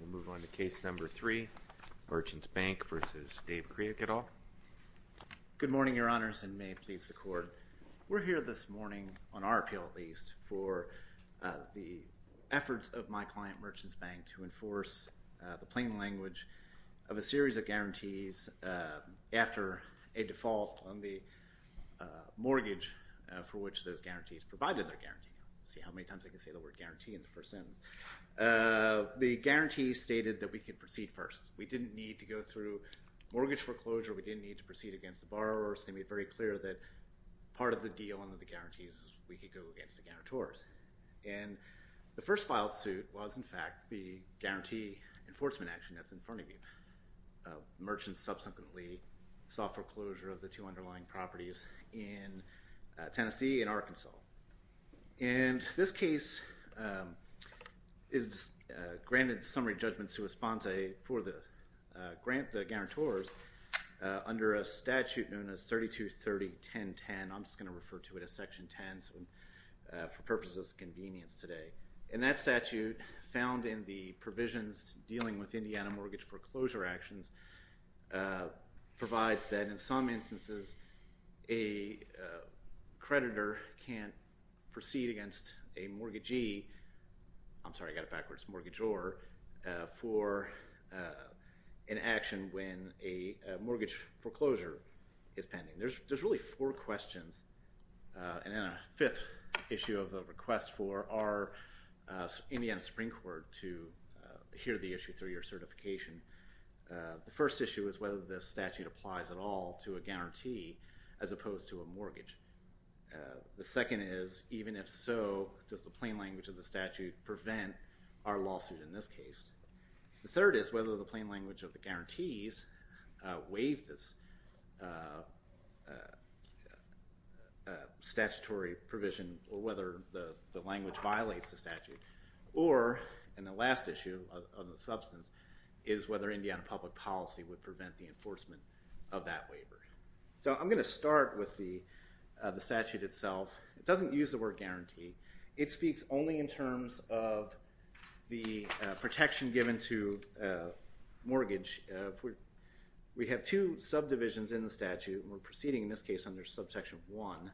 We'll move on to case number three, Merchants Bank v. Dave Craik et al. Good morning, your honors, and may it please the court. We're here this morning, on our appeal at least, for the efforts of my client, Merchants Bank, to enforce the plain language of a series of guarantees after a default on the mortgage for which those guarantees provided their guarantee. Let's see how many times I can say the word guarantee in the first sentence. The guarantee stated that we could proceed first. We didn't need to go through mortgage foreclosure. We didn't need to proceed against the borrowers. They made very clear that part of the deal under the guarantees is we could go against the guarantors. And the first filed suit was, in fact, the guarantee enforcement action that's in front of you. Merchants subsequently sought foreclosure of the two underlying properties in Tennessee and Arkansas. And this case is granted summary judgment sua sponsae for the grant, the guarantors, under a statute known as 3230.1010. I'm just going to refer to it as Section 10 for purposes of convenience today. And that statute, found in the provisions dealing with Indiana mortgage foreclosure actions, provides that in some instances a creditor can't proceed against a mortgagee. I'm sorry, I got it backwards. Mortgageor for an action when a mortgage foreclosure is pending. There's really four questions. And then a fifth issue of the request for our Indiana Supreme Court to hear the issue through your certification. The first issue is whether this statute applies at all to a guarantee as opposed to a mortgage. The second is, even if so, does the plain language of the statute prevent our lawsuit in this case? The third is whether the plain language of the guarantees waive this statutory provision or whether the language violates the statute. Or, and the last issue of the substance, is whether Indiana public policy would prevent the enforcement of that waiver. So I'm going to start with the statute itself. It doesn't use the word guarantee. It speaks only in terms of the protection given to mortgage. We have two subdivisions in the statute. We're proceeding in this case under Subsection 1.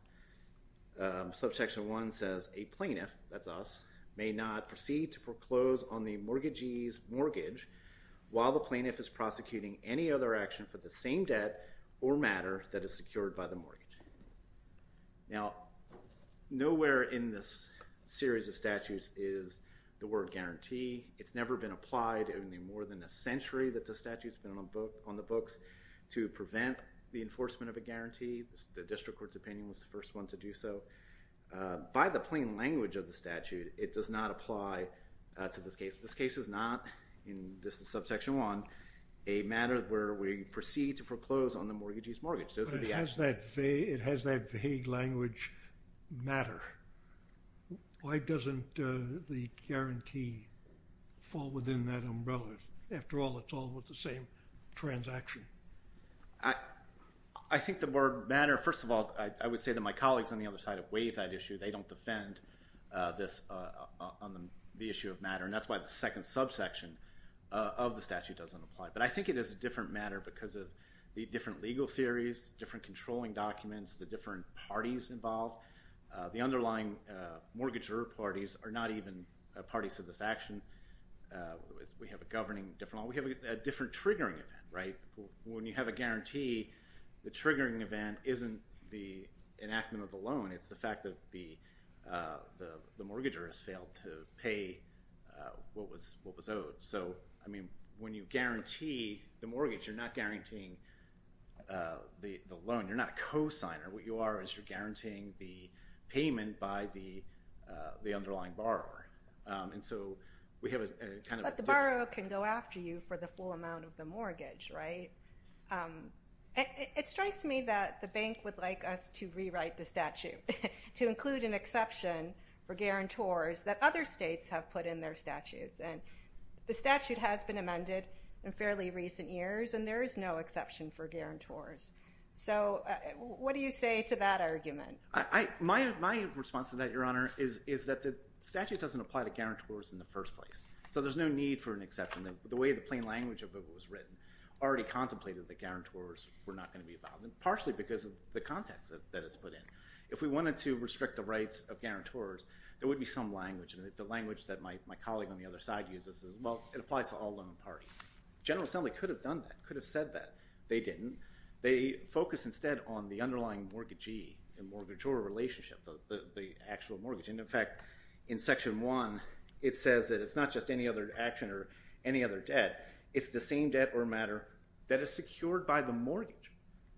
Subsection 1 says a plaintiff, that's us, may not proceed to foreclose on the mortgagee's mortgage while the plaintiff is prosecuting any other action for the same debt or matter that is secured by the mortgage. Now, nowhere in this series of statutes is the word guarantee. It's never been applied. Only more than a century that the statute's been on the books to prevent the enforcement of a guarantee. The district court's opinion was the first one to do so. By the plain language of the statute, it does not apply to this case. This case is not, and this is Subsection 1, a matter where we proceed to foreclose on the mortgagee's mortgage. Those are the actions. It has that vague language, matter. Why doesn't the guarantee fall within that umbrella? After all, it's all with the same transaction. I think the word matter, first of all, I would say that my colleagues on the other side have waived that issue. They don't defend this on the issue of matter. And that's why the second subsection of the statute doesn't apply. But I think it is a different matter because of the different legal theories, different controlling documents, the different parties involved. The underlying mortgagee parties are not even parties to this action. We have a governing different law. We have a different triggering event, right? When you have a guarantee, the triggering event isn't the enactment of the loan. It's the fact that the mortgager has failed to pay what was owed. So, I mean, when you guarantee the mortgage, you're not guaranteeing the loan. You're not a cosigner. What you are is you're guaranteeing the payment by the underlying borrower. And so we have a kind of different— It strikes me that the bank would like us to rewrite the statute to include an exception for guarantors that other states have put in their statutes. And the statute has been amended in fairly recent years, and there is no exception for guarantors. So what do you say to that argument? My response to that, Your Honor, is that the statute doesn't apply to guarantors in the first place. So there's no need for an exception. The way the plain language of it was written already contemplated that guarantors were not going to be involved, and partially because of the context that it's put in. If we wanted to restrict the rights of guarantors, there would be some language, and the language that my colleague on the other side uses is, well, it applies to all loan parties. The General Assembly could have done that, could have said that. They didn't. They focused instead on the underlying mortgagee and mortgagor relationship, the actual mortgage. And, in fact, in Section 1, it says that it's not just any other action or any other debt. It's the same debt or matter that is secured by the mortgage.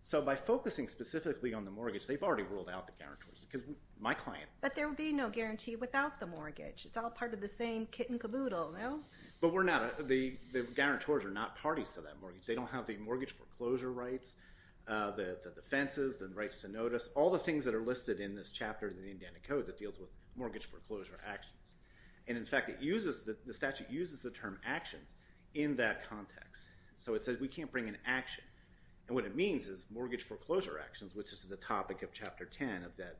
So by focusing specifically on the mortgage, they've already ruled out the guarantors because my client. But there would be no guarantee without the mortgage. It's all part of the same kit and caboodle, no? But we're not. The guarantors are not parties to that mortgage. They don't have the mortgage foreclosure rights, the defenses, the rights to notice, all the things that are listed in this chapter of the Indiana Code that deals with mortgage foreclosure actions. And, in fact, the statute uses the term actions in that context. So it says we can't bring an action. And what it means is mortgage foreclosure actions, which is the topic of Chapter 10 of that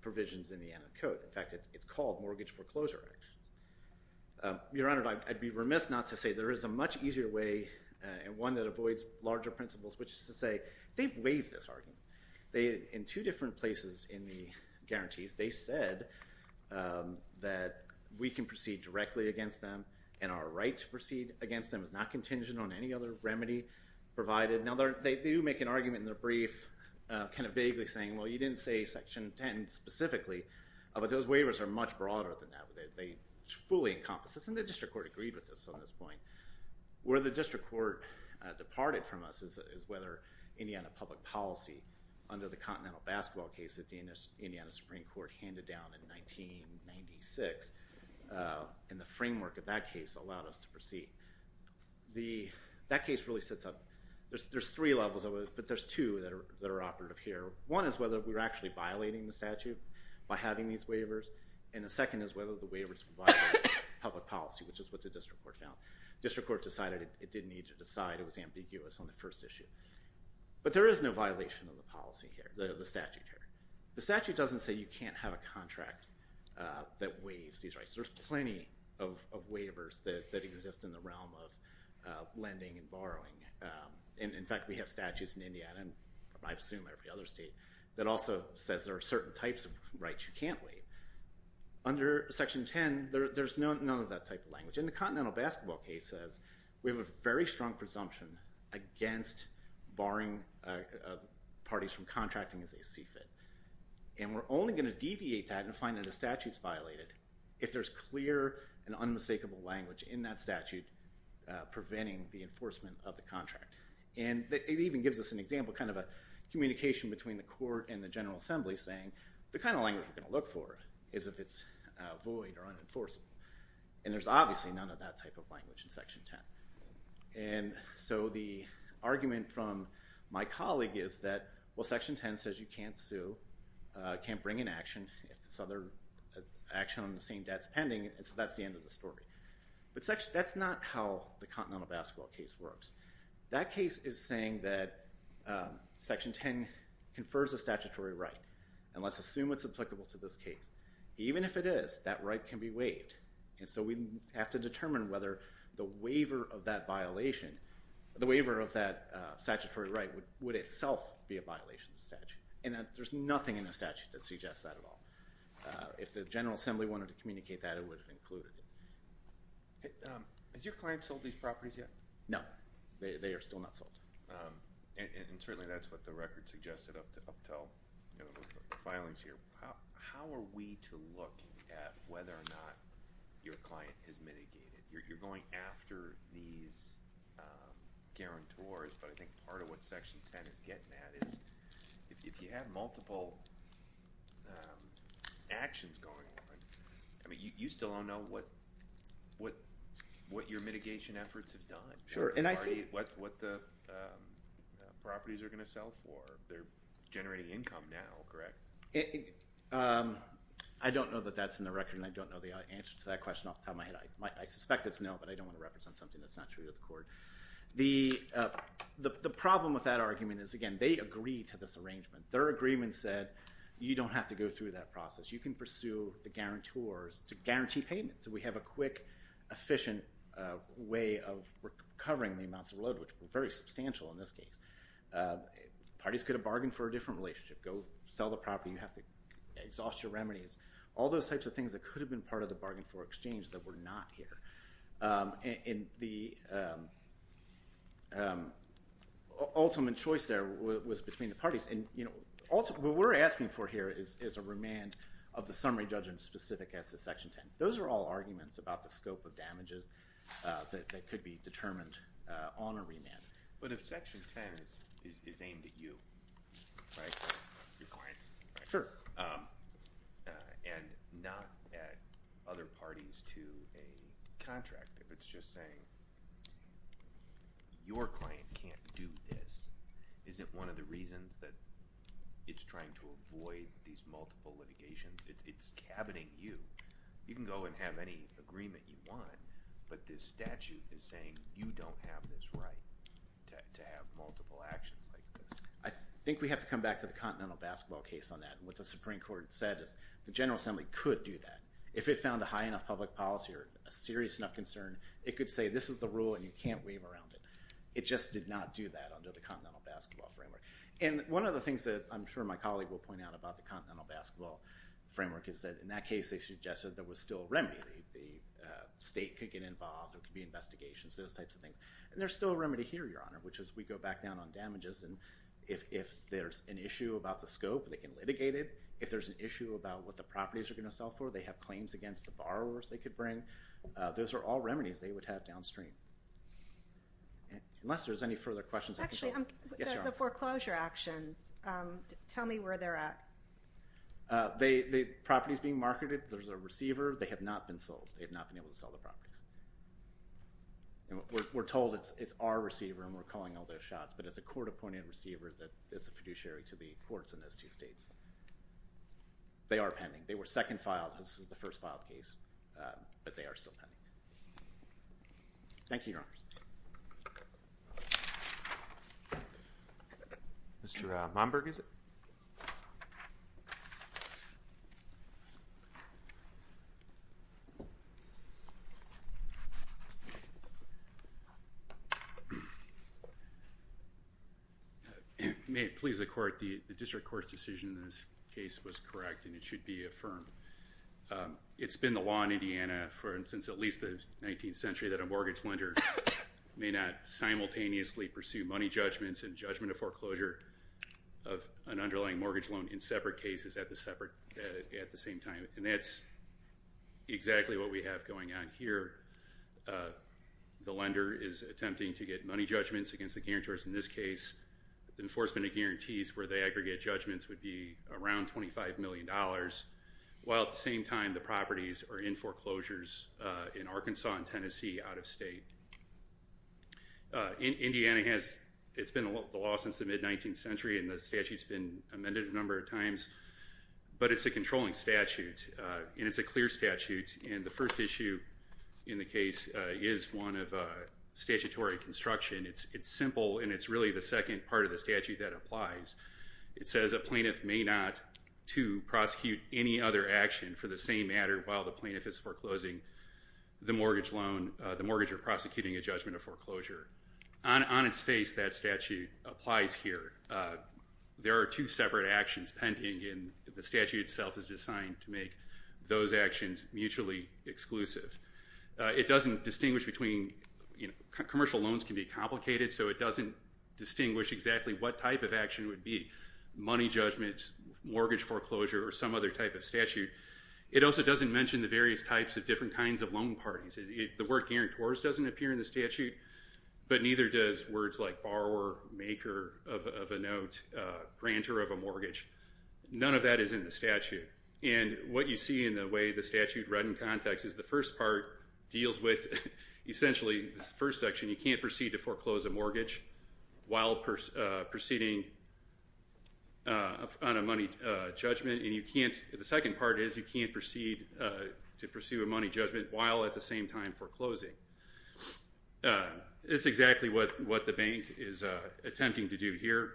provision's Indiana Code. In fact, it's called mortgage foreclosure actions. Your Honor, I'd be remiss not to say there is a much easier way and one that avoids larger principles, which is to say they've waived this argument. In two different places in the guarantees, they said that we can proceed directly against them and our right to proceed against them is not contingent on any other remedy provided. Now, they do make an argument in their brief kind of vaguely saying, well, you didn't say Section 10 specifically, but those waivers are much broader than that. They fully encompass this, and the district court agreed with this on this point. Where the district court departed from us is whether Indiana public policy under the Continental Basketball case that the Indiana Supreme Court handed down in 1996 and the framework of that case allowed us to proceed. That case really sets up, there's three levels of it, but there's two that are operative here. One is whether we're actually violating the statute by having these waivers, and the second is whether the waivers violate public policy, which is what the district court found. The district court decided it didn't need to decide, it was ambiguous on the first issue. But there is no violation of the policy here, the statute here. The statute doesn't say you can't have a contract that waives these rights. There's plenty of waivers that exist in the realm of lending and borrowing. In fact, we have statutes in Indiana, and I assume every other state, that also says there are certain types of rights you can't waive. Under Section 10, there's none of that type of language. And the Continental Basketball case says we have a very strong presumption against barring parties from contracting as they see fit. And we're only going to deviate that and find that a statute's violated if there's clear and unmistakable language in that statute preventing the enforcement of the contract. And it even gives us an example, kind of a communication between the court and the General Assembly saying the kind of language we're going to look for is if it's void or unenforceable. And there's obviously none of that type of language in Section 10. And so the argument from my colleague is that, well, Section 10 says you can't sue, can't bring an action if this other action on the same debt's pending, and so that's the end of the story. But that's not how the Continental Basketball case works. That case is saying that Section 10 confers a statutory right, and let's assume it's applicable to this case. Even if it is, that right can be waived. And so we have to determine whether the waiver of that violation, the waiver of that statutory right would itself be a violation of the statute. And there's nothing in the statute that suggests that at all. If the General Assembly wanted to communicate that, it would have included it. Has your client sold these properties yet? No, they are still not sold. And certainly that's what the record suggested up until the filings here. How are we to look at whether or not your client is mitigated? You're going after these guarantors, but I think part of what Section 10 is getting at is if you have multiple actions going on, I mean you still don't know what your mitigation efforts have done. What the properties are going to sell for. They're generating income now, correct? I don't know that that's in the record, and I don't know the answer to that question off the top of my head. I suspect it's no, but I don't want to represent something that's not true to the court. The problem with that argument is, again, they agree to this arrangement. Their agreement said you don't have to go through that process. You can pursue the guarantors to guarantee payment. So we have a quick, efficient way of recovering the amounts of load, which were very substantial in this case. Parties could have bargained for a different relationship. Go sell the property. You have to exhaust your remedies. All those types of things that could have been part of the bargain for exchange that were not here. And the ultimate choice there was between the parties, and what we're asking for here is a remand of the summary judgment specific as to Section 10. Those are all arguments about the scope of damages that could be determined on a remand. But if Section 10 is aimed at you, right? Your clients, right? And not at other parties to a contract. If it's just saying your client can't do this, is it one of the reasons that it's trying to avoid these multiple litigations? It's cabineting you. You can go and have any agreement you want, but this statute is saying you don't have this right to have multiple actions like this. I think we have to come back to the Continental Basketball case on that. What the Supreme Court said is the General Assembly could do that. If it found a high enough public policy or a serious enough concern, it could say this is the rule and you can't waive around it. It just did not do that under the Continental Basketball framework. And one of the things that I'm sure my colleague will point out about the Continental Basketball framework is that in that case they suggested there was still a remedy. The state could get involved. There could be investigations, those types of things. And there's still a remedy here, Your Honor, which is we go back down on damages and if there's an issue about the scope, they can litigate it. If there's an issue about what the properties are going to sell for, they have claims against the borrowers they could bring. Those are all remedies they would have downstream. Unless there's any further questions. Actually, the foreclosure actions, tell me where they're at. The property is being marketed. There's a receiver. They have not been sold. They have not been able to sell the property. We're told it's our receiver and we're calling all those shots, but it's a court-appointed receiver that is a fiduciary to the courts in those two states. They are pending. They were second filed. This is the first filed case, but they are still pending. Thank you, Your Honor. Mr. Momberg, is it? May it please the Court, the district court's decision in this case was correct and it should be affirmed. It's been the law in Indiana since at least the 19th century that a mortgage lender may not simultaneously pursue money judgments and judgment of foreclosure of an underlying mortgage loan in separate cases at the same time. And that's exactly what we have going on here. The lender is attempting to get money judgments against the guarantors in this case. Enforcement of guarantees for the aggregate judgments would be around $25 million. While at the same time the properties are in foreclosures in Arkansas and Tennessee, out of state. Indiana has, it's been the law since the mid-19th century and the statute's been amended a number of times, but it's a controlling statute and it's a clear statute and the first issue in the case is one of statutory construction. It's simple and it's really the second part of the statute that applies. It says a plaintiff may not, too, prosecute any other action for the same matter while the plaintiff is foreclosing the mortgage loan, the mortgage or prosecuting a judgment of foreclosure. On its face that statute applies here. There are two separate actions pending and the statute itself is designed to make those actions mutually exclusive. It doesn't distinguish between, you know, commercial loans can be complicated so it doesn't distinguish exactly what type of action it would be. Money judgments, mortgage foreclosure, or some other type of statute. It also doesn't mention the various types of different kinds of loan parties. The word guarantors doesn't appear in the statute, but neither does words like borrower, maker of a note, grantor of a mortgage. None of that is in the statute. And what you see in the way the statute read in context is the first part deals with, essentially, this first section, you can't proceed to foreclose a mortgage while proceeding on a money judgment and you can't, the second part is you can't proceed to pursue a money judgment while at the same time foreclosing. It's exactly what the bank is attempting to do here.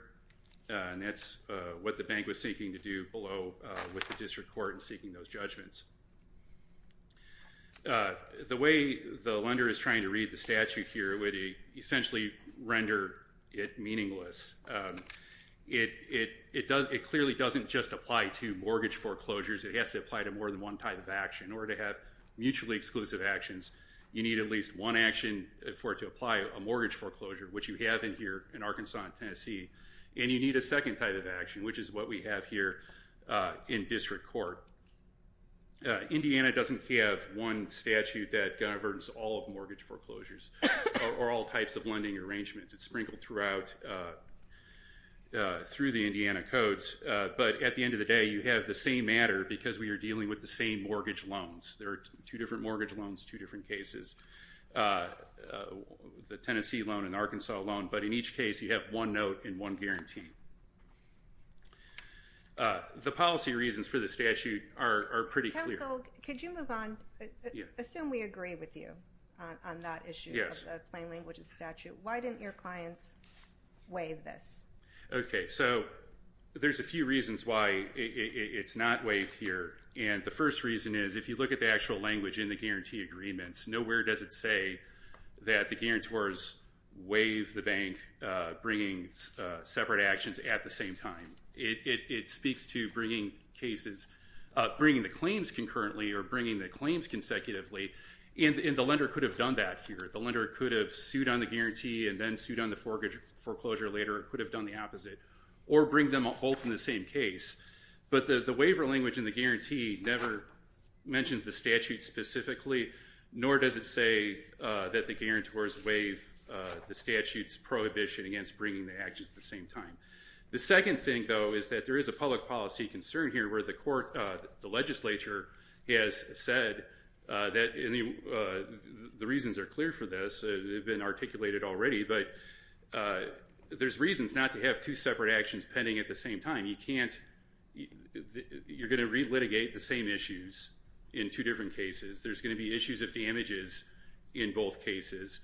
And that's what the bank was seeking to do below with the district court in seeking those judgments. The way the lender is trying to read the statute here would essentially render it meaningless. It clearly doesn't just apply to mortgage foreclosures. It has to apply to more than one type of action. In order to have mutually exclusive actions, you need at least one action for it to apply a mortgage foreclosure, which you have in here in Arkansas and Tennessee. And you need a second type of action, which is what we have here in district court. Indiana doesn't have one statute that governs all of mortgage foreclosures or all types of lending arrangements. It's sprinkled throughout through the Indiana codes. But at the end of the day, you have the same matter because we are dealing with the same mortgage loans. There are two different mortgage loans, two different cases. The Tennessee loan and the Arkansas loan. But in each case, you have one note and one guarantee. The policy reasons for the statute are pretty clear. Counsel, could you move on? Assume we agree with you on that issue of the plain language of the statute. Why didn't your clients waive this? Okay, so there's a few reasons why it's not waived here. And the first reason is if you look at the actual language in the guarantee agreements, nowhere does it say that the guarantors waive the bank bringing separate actions at the same time. It speaks to bringing the claims concurrently or bringing the claims consecutively. And the lender could have done that here. The lender could have sued on the guarantee and then sued on the foreclosure later or could have done the opposite or bring them both in the same case. But the waiver language in the guarantee never mentions the statute specifically, nor does it say that the guarantors waive the statute's prohibition against bringing the actions at the same time. The second thing, though, is that there is a public policy concern here where the court, the legislature, has said that the reasons are clear for this. They've been articulated already. But there's reasons not to have two separate actions pending at the same time. You can't, you're going to re-litigate the same issues in two different cases. There's going to be issues of damages in both cases.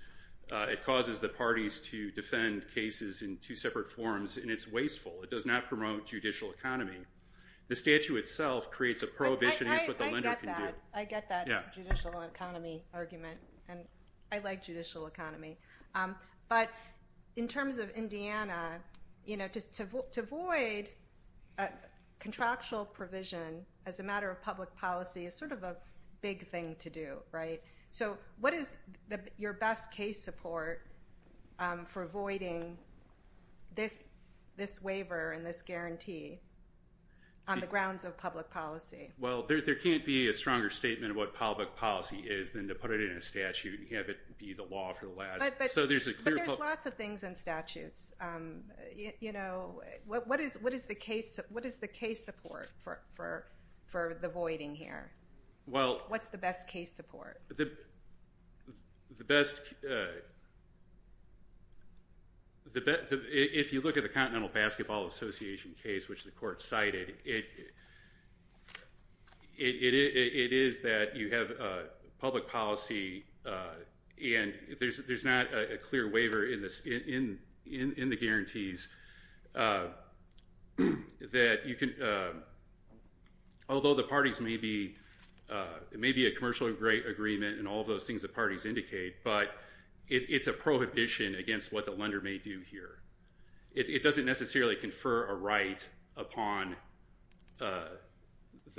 It causes the parties to defend cases in two separate forms, and it's wasteful. It does not promote judicial economy. The statute itself creates a prohibition against what the lender can do. I get that. I get that judicial economy argument, and I like judicial economy. But in terms of Indiana, you know, to avoid contractual provision as a matter of public policy is sort of a big thing to do, right? So what is your best case support for voiding this waiver and this guarantee on the grounds of public policy? Well, there can't be a stronger statement of what public policy is than to put it in a statute and have it be the law for the last. But there's lots of things in statutes. You know, what is the case support for the voiding here? What's the best case support? If you look at the Continental Basketball Association case, which the court cited, it is that you have public policy and there's not a clear waiver in the guarantees that you can, although the parties may be a commercial agreement and all of those things the parties indicate, but it's a prohibition against what the lender may do here. It doesn't necessarily confer a right upon the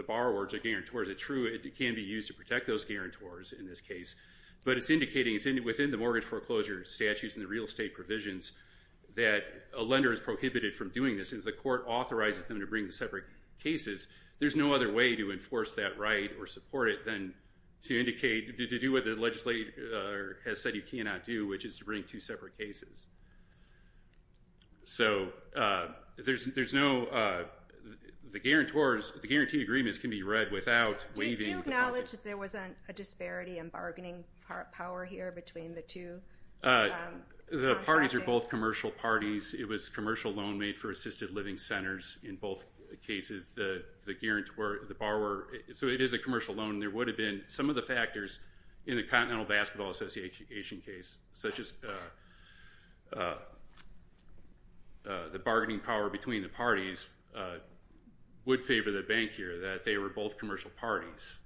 borrowers or guarantors. It's true it can be used to protect those guarantors in this case, but it's indicating within the mortgage foreclosure statutes and the real estate provisions that a lender is prohibited from doing this. If the court authorizes them to bring separate cases, there's no other way to enforce that right or support it than to indicate, to do what the legislator has said you cannot do, which is to bring two separate cases. So there's no guarantee agreements can be read without waiving. Do you acknowledge that there was a disparity in bargaining power here between the two? The parties are both commercial parties. It was commercial loan made for assisted living centers in both cases. The guarantor, the borrower, so it is a commercial loan. There would have been some of the factors in the Continental Basketball Association case, such as the bargaining power between the parties, would favor the bank here that they were both commercial parties.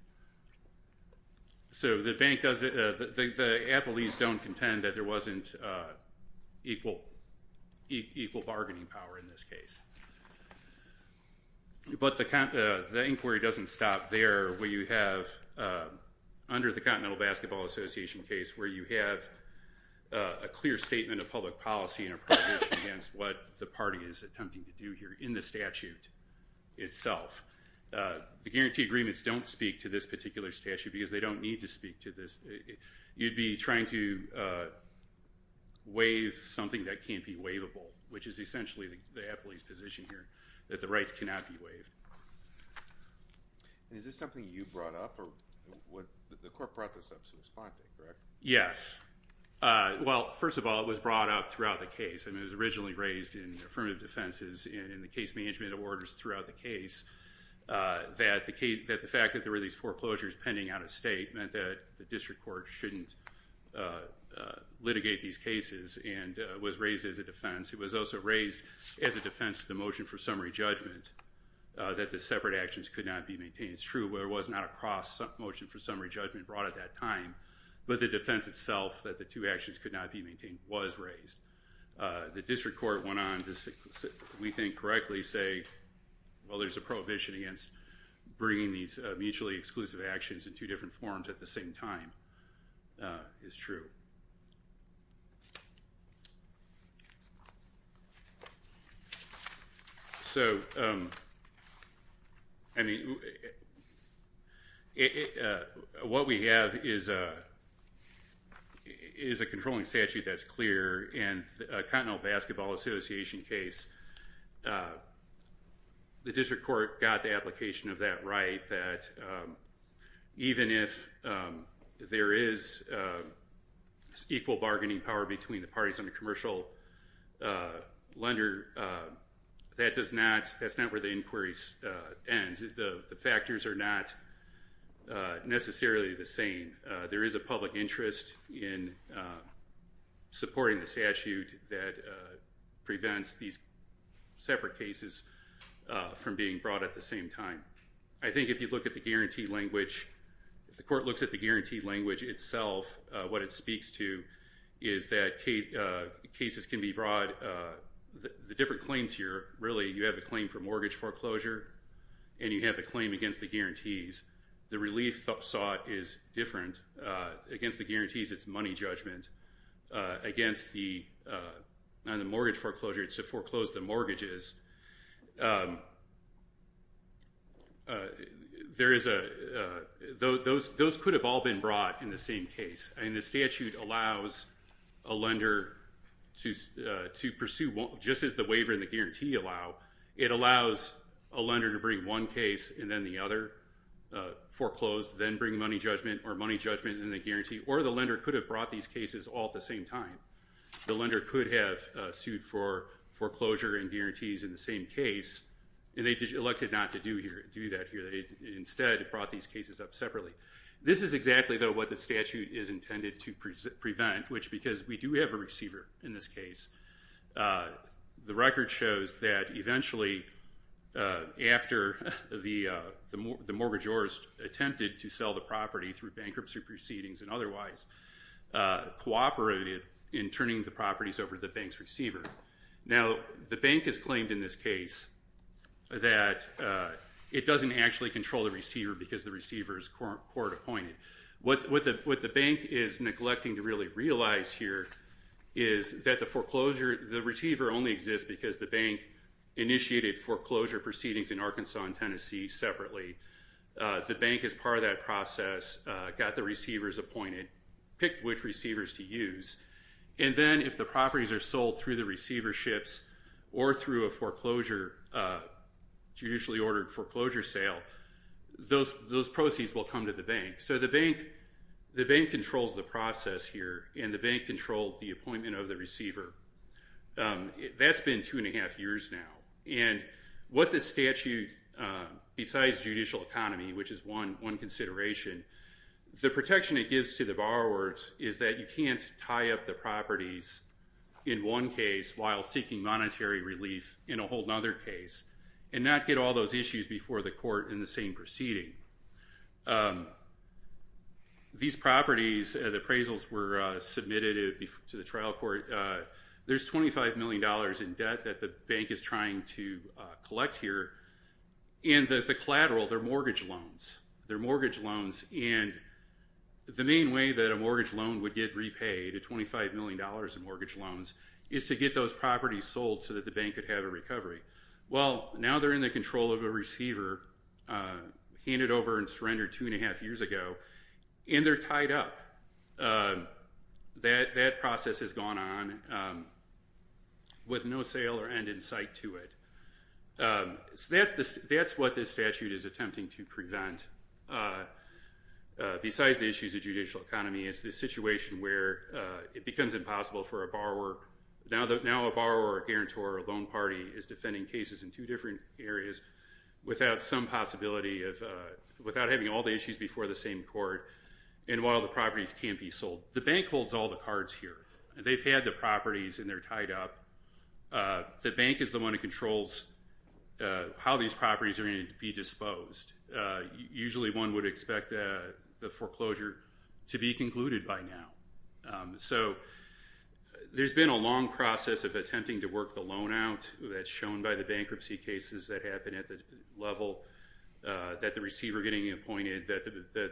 So the Applees don't contend that there wasn't equal bargaining power in this case. But the inquiry doesn't stop there where you have, under the Continental Basketball Association case, where you have a clear statement of public policy against what the party is attempting to do here in the statute itself. The guarantee agreements don't speak to this particular statute because they don't need to speak to this. You'd be trying to waive something that can't be waivable, which is essentially the Apple's position here, that the rights cannot be waived. Is this something you brought up or the court brought this up to respond to, correct? Yes. Well, first of all, it was brought up throughout the case. I mean, it was originally raised in affirmative defenses and in the case management orders throughout the case that the fact that there were these foreclosures pending out of state meant that the district court shouldn't litigate these cases and was raised as a defense. It was also raised as a defense to the motion for summary judgment that the separate actions could not be maintained. It's true there was not a cross motion for summary judgment brought at that time, but the defense itself that the two actions could not be maintained was raised. The district court went on to, we think, correctly say, well, there's a prohibition against bringing these mutually exclusive actions in two different forms at the same time. It's true. So, I mean, what we have is a controlling statute that's clear in the Continental Basketball Association case. The district court got the application of that right, that even if there is equal bargaining power between the parties on the commercial lender, that's not where the inquiries end. The factors are not necessarily the same. There is a public interest in supporting the statute that prevents these separate cases from being brought at the same time. I think if you look at the guarantee language, if the court looks at the guarantee language itself, what it speaks to is that cases can be brought. The different claims here, really, you have a claim for mortgage foreclosure and you have a claim against the guarantees. The relief sought is different. Against the guarantees, it's money judgment. Against the mortgage foreclosure, it's to foreclose the mortgages. Those could have all been brought in the same case, and the statute allows a lender to pursue just as the waiver and the guarantee allow, it allows a lender to bring one case and then the other, foreclose, then bring money judgment or money judgment and the guarantee, or the lender could have brought these cases all at the same time. The lender could have sued for foreclosure and guarantees in the same case, and they elected not to do that here. Instead, it brought these cases up separately. This is exactly, though, what the statute is intended to prevent, which because we do have a receiver in this case, the record shows that eventually after the mortgagors attempted to sell the property through bankruptcy proceedings and otherwise cooperated in turning the properties over to the bank's receiver. Now, the bank has claimed in this case that it doesn't actually control the receiver because the receiver is court-appointed. What the bank is neglecting to really realize here is that the receiver only exists because the bank initiated foreclosure proceedings in Arkansas and Tennessee separately. The bank, as part of that process, got the receivers appointed, picked which receivers to use, and then if the properties are sold through the receiverships or through a foreclosure, a judicially ordered foreclosure sale, those proceeds will come to the bank. So the bank controls the process here and the bank controlled the appointment of the receiver. That's been two and a half years now, and what this statute, besides judicial economy, which is one consideration, the protection it gives to the borrowers is that you can't tie up the properties in one case while seeking monetary relief in a whole other case and not get all those issues before the court in the same proceeding. These properties, the appraisals were submitted to the trial court. There's $25 million in debt that the bank is trying to collect here, and the collateral, they're mortgage loans. They're mortgage loans, and the main way that a mortgage loan would get repaid, $25 million in mortgage loans, is to get those properties sold so that the bank could have a recovery. Well, now they're in the control of a receiver, handed over and surrendered two and a half years ago, and they're tied up. That process has gone on with no sale or end in sight to it. So that's what this statute is attempting to prevent. Besides the issues of judicial economy, it's the situation where it becomes impossible for a borrower. Now a borrower or a guarantor or a loan party is defending cases in two different areas without some possibility of, without having all the issues before the same court, and while the properties can't be sold. The bank holds all the cards here. They've had the properties, and they're tied up. The bank is the one that controls how these properties are going to be disposed. Usually one would expect the foreclosure to be concluded by now. So there's been a long process of attempting to work the loan out. That's shown by the bankruptcy cases that happen at the level that the receiver getting appointed, that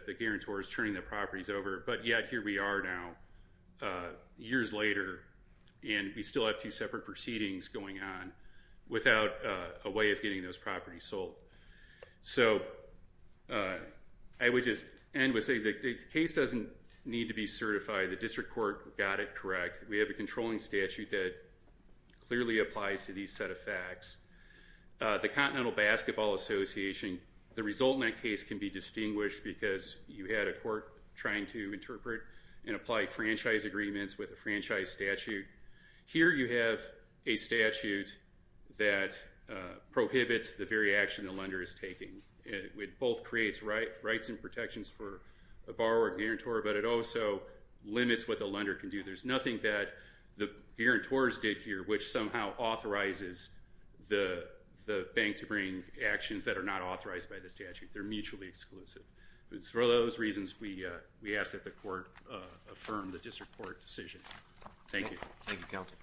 the guarantor is turning the properties over, but yet here we are now. Years later, and we still have two separate proceedings going on without a way of getting those properties sold. So I would just end with saying the case doesn't need to be certified. The district court got it correct. We have a controlling statute that clearly applies to these set of facts. The Continental Basketball Association, the result in that case can be distinguished because you had a court trying to interpret and apply franchise agreements with a franchise statute. Here you have a statute that prohibits the very action the lender is taking. It both creates rights and protections for a borrower and guarantor, but it also limits what the lender can do. There's nothing that the guarantors did here which somehow authorizes the bank to bring actions that are not authorized by the statute. They're mutually exclusive. For those reasons, we ask that the court affirm the district court decision. Thank you. Thank you, Counsel.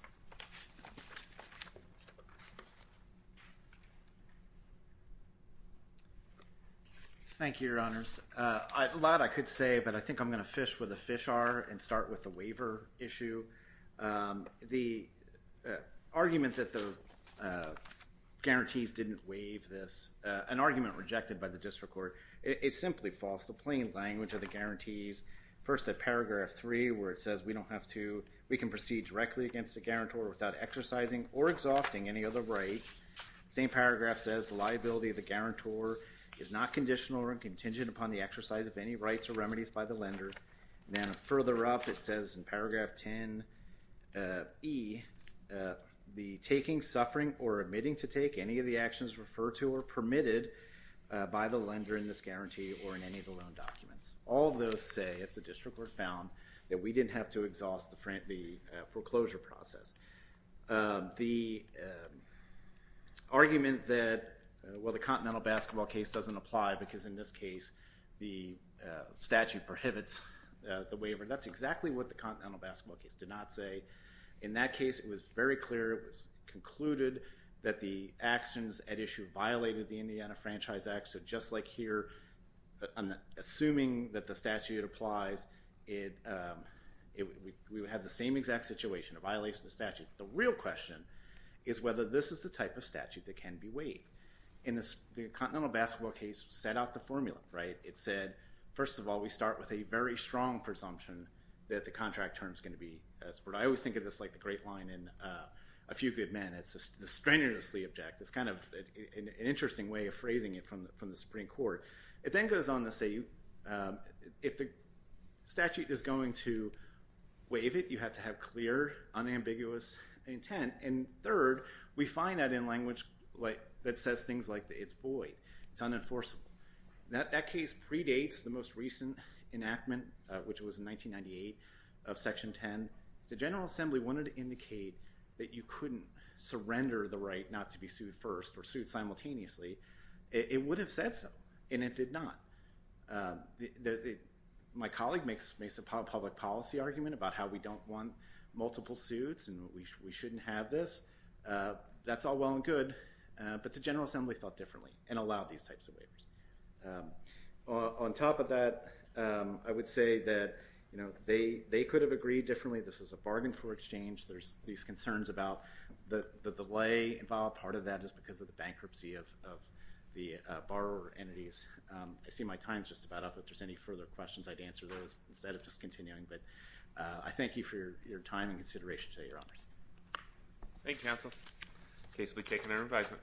Thank you, Your Honors. A lot I could say, but I think I'm going to fish where the fish are and start with the waiver issue. The argument that the guarantees didn't waive this, an argument rejected by the district court, is simply false. The plain language of the guarantees, first at paragraph 3 where it says we can proceed directly against the guarantor without exercising or exhausting any other right. The same paragraph says the liability of the guarantor is not conditional or contingent upon the exercise of any rights or remedies by the lender. Then further up, it says in paragraph 10E, the taking, suffering, or admitting to take any of the actions referred to or permitted by the lender in this guarantee or in any of the loan documents. All of those say, as the district court found, that we didn't have to exhaust the foreclosure process. The argument that the Continental Basketball case doesn't apply because in this case the statute prohibits the waiver, that's exactly what the Continental Basketball case did not say. In that case, it was very clear. It was concluded that the actions at issue violated the Indiana Franchise Act. So just like here, I'm assuming that the statute applies. We have the same exact situation, a violation of the statute. The real question is whether this is the type of statute that can be waived. In the Continental Basketball case, it set out the formula. It said, first of all, we start with a very strong presumption that the contract term is going to be... I always think of this like the great line in A Few Good Men. It's the strenuously object. It's kind of an interesting way of phrasing it from the Supreme Court. It then goes on to say, if the statute is going to waive it, you have to have clear, unambiguous intent. And third, we find that in language that says things like, it's void, it's unenforceable. That case predates the most recent enactment, which was in 1998, of Section 10. The General Assembly wanted to indicate that you couldn't surrender the right not to be sued first or sued simultaneously. It would have said so, and it did not. My colleague makes a public policy argument about how we don't want multiple suits and we shouldn't have this. That's all well and good, but the General Assembly thought differently and allowed these types of waivers. On top of that, I would say that they could have agreed differently. This is a bargain for exchange. There's these concerns about the delay involved. Part of that is because of the bankruptcy of the borrower entities. I see my time's just about up. If there's any further questions, I'd answer those instead of just continuing. But I thank you for your time and consideration today, Your Honors. Thank you, counsel. The case will be taken under advisement.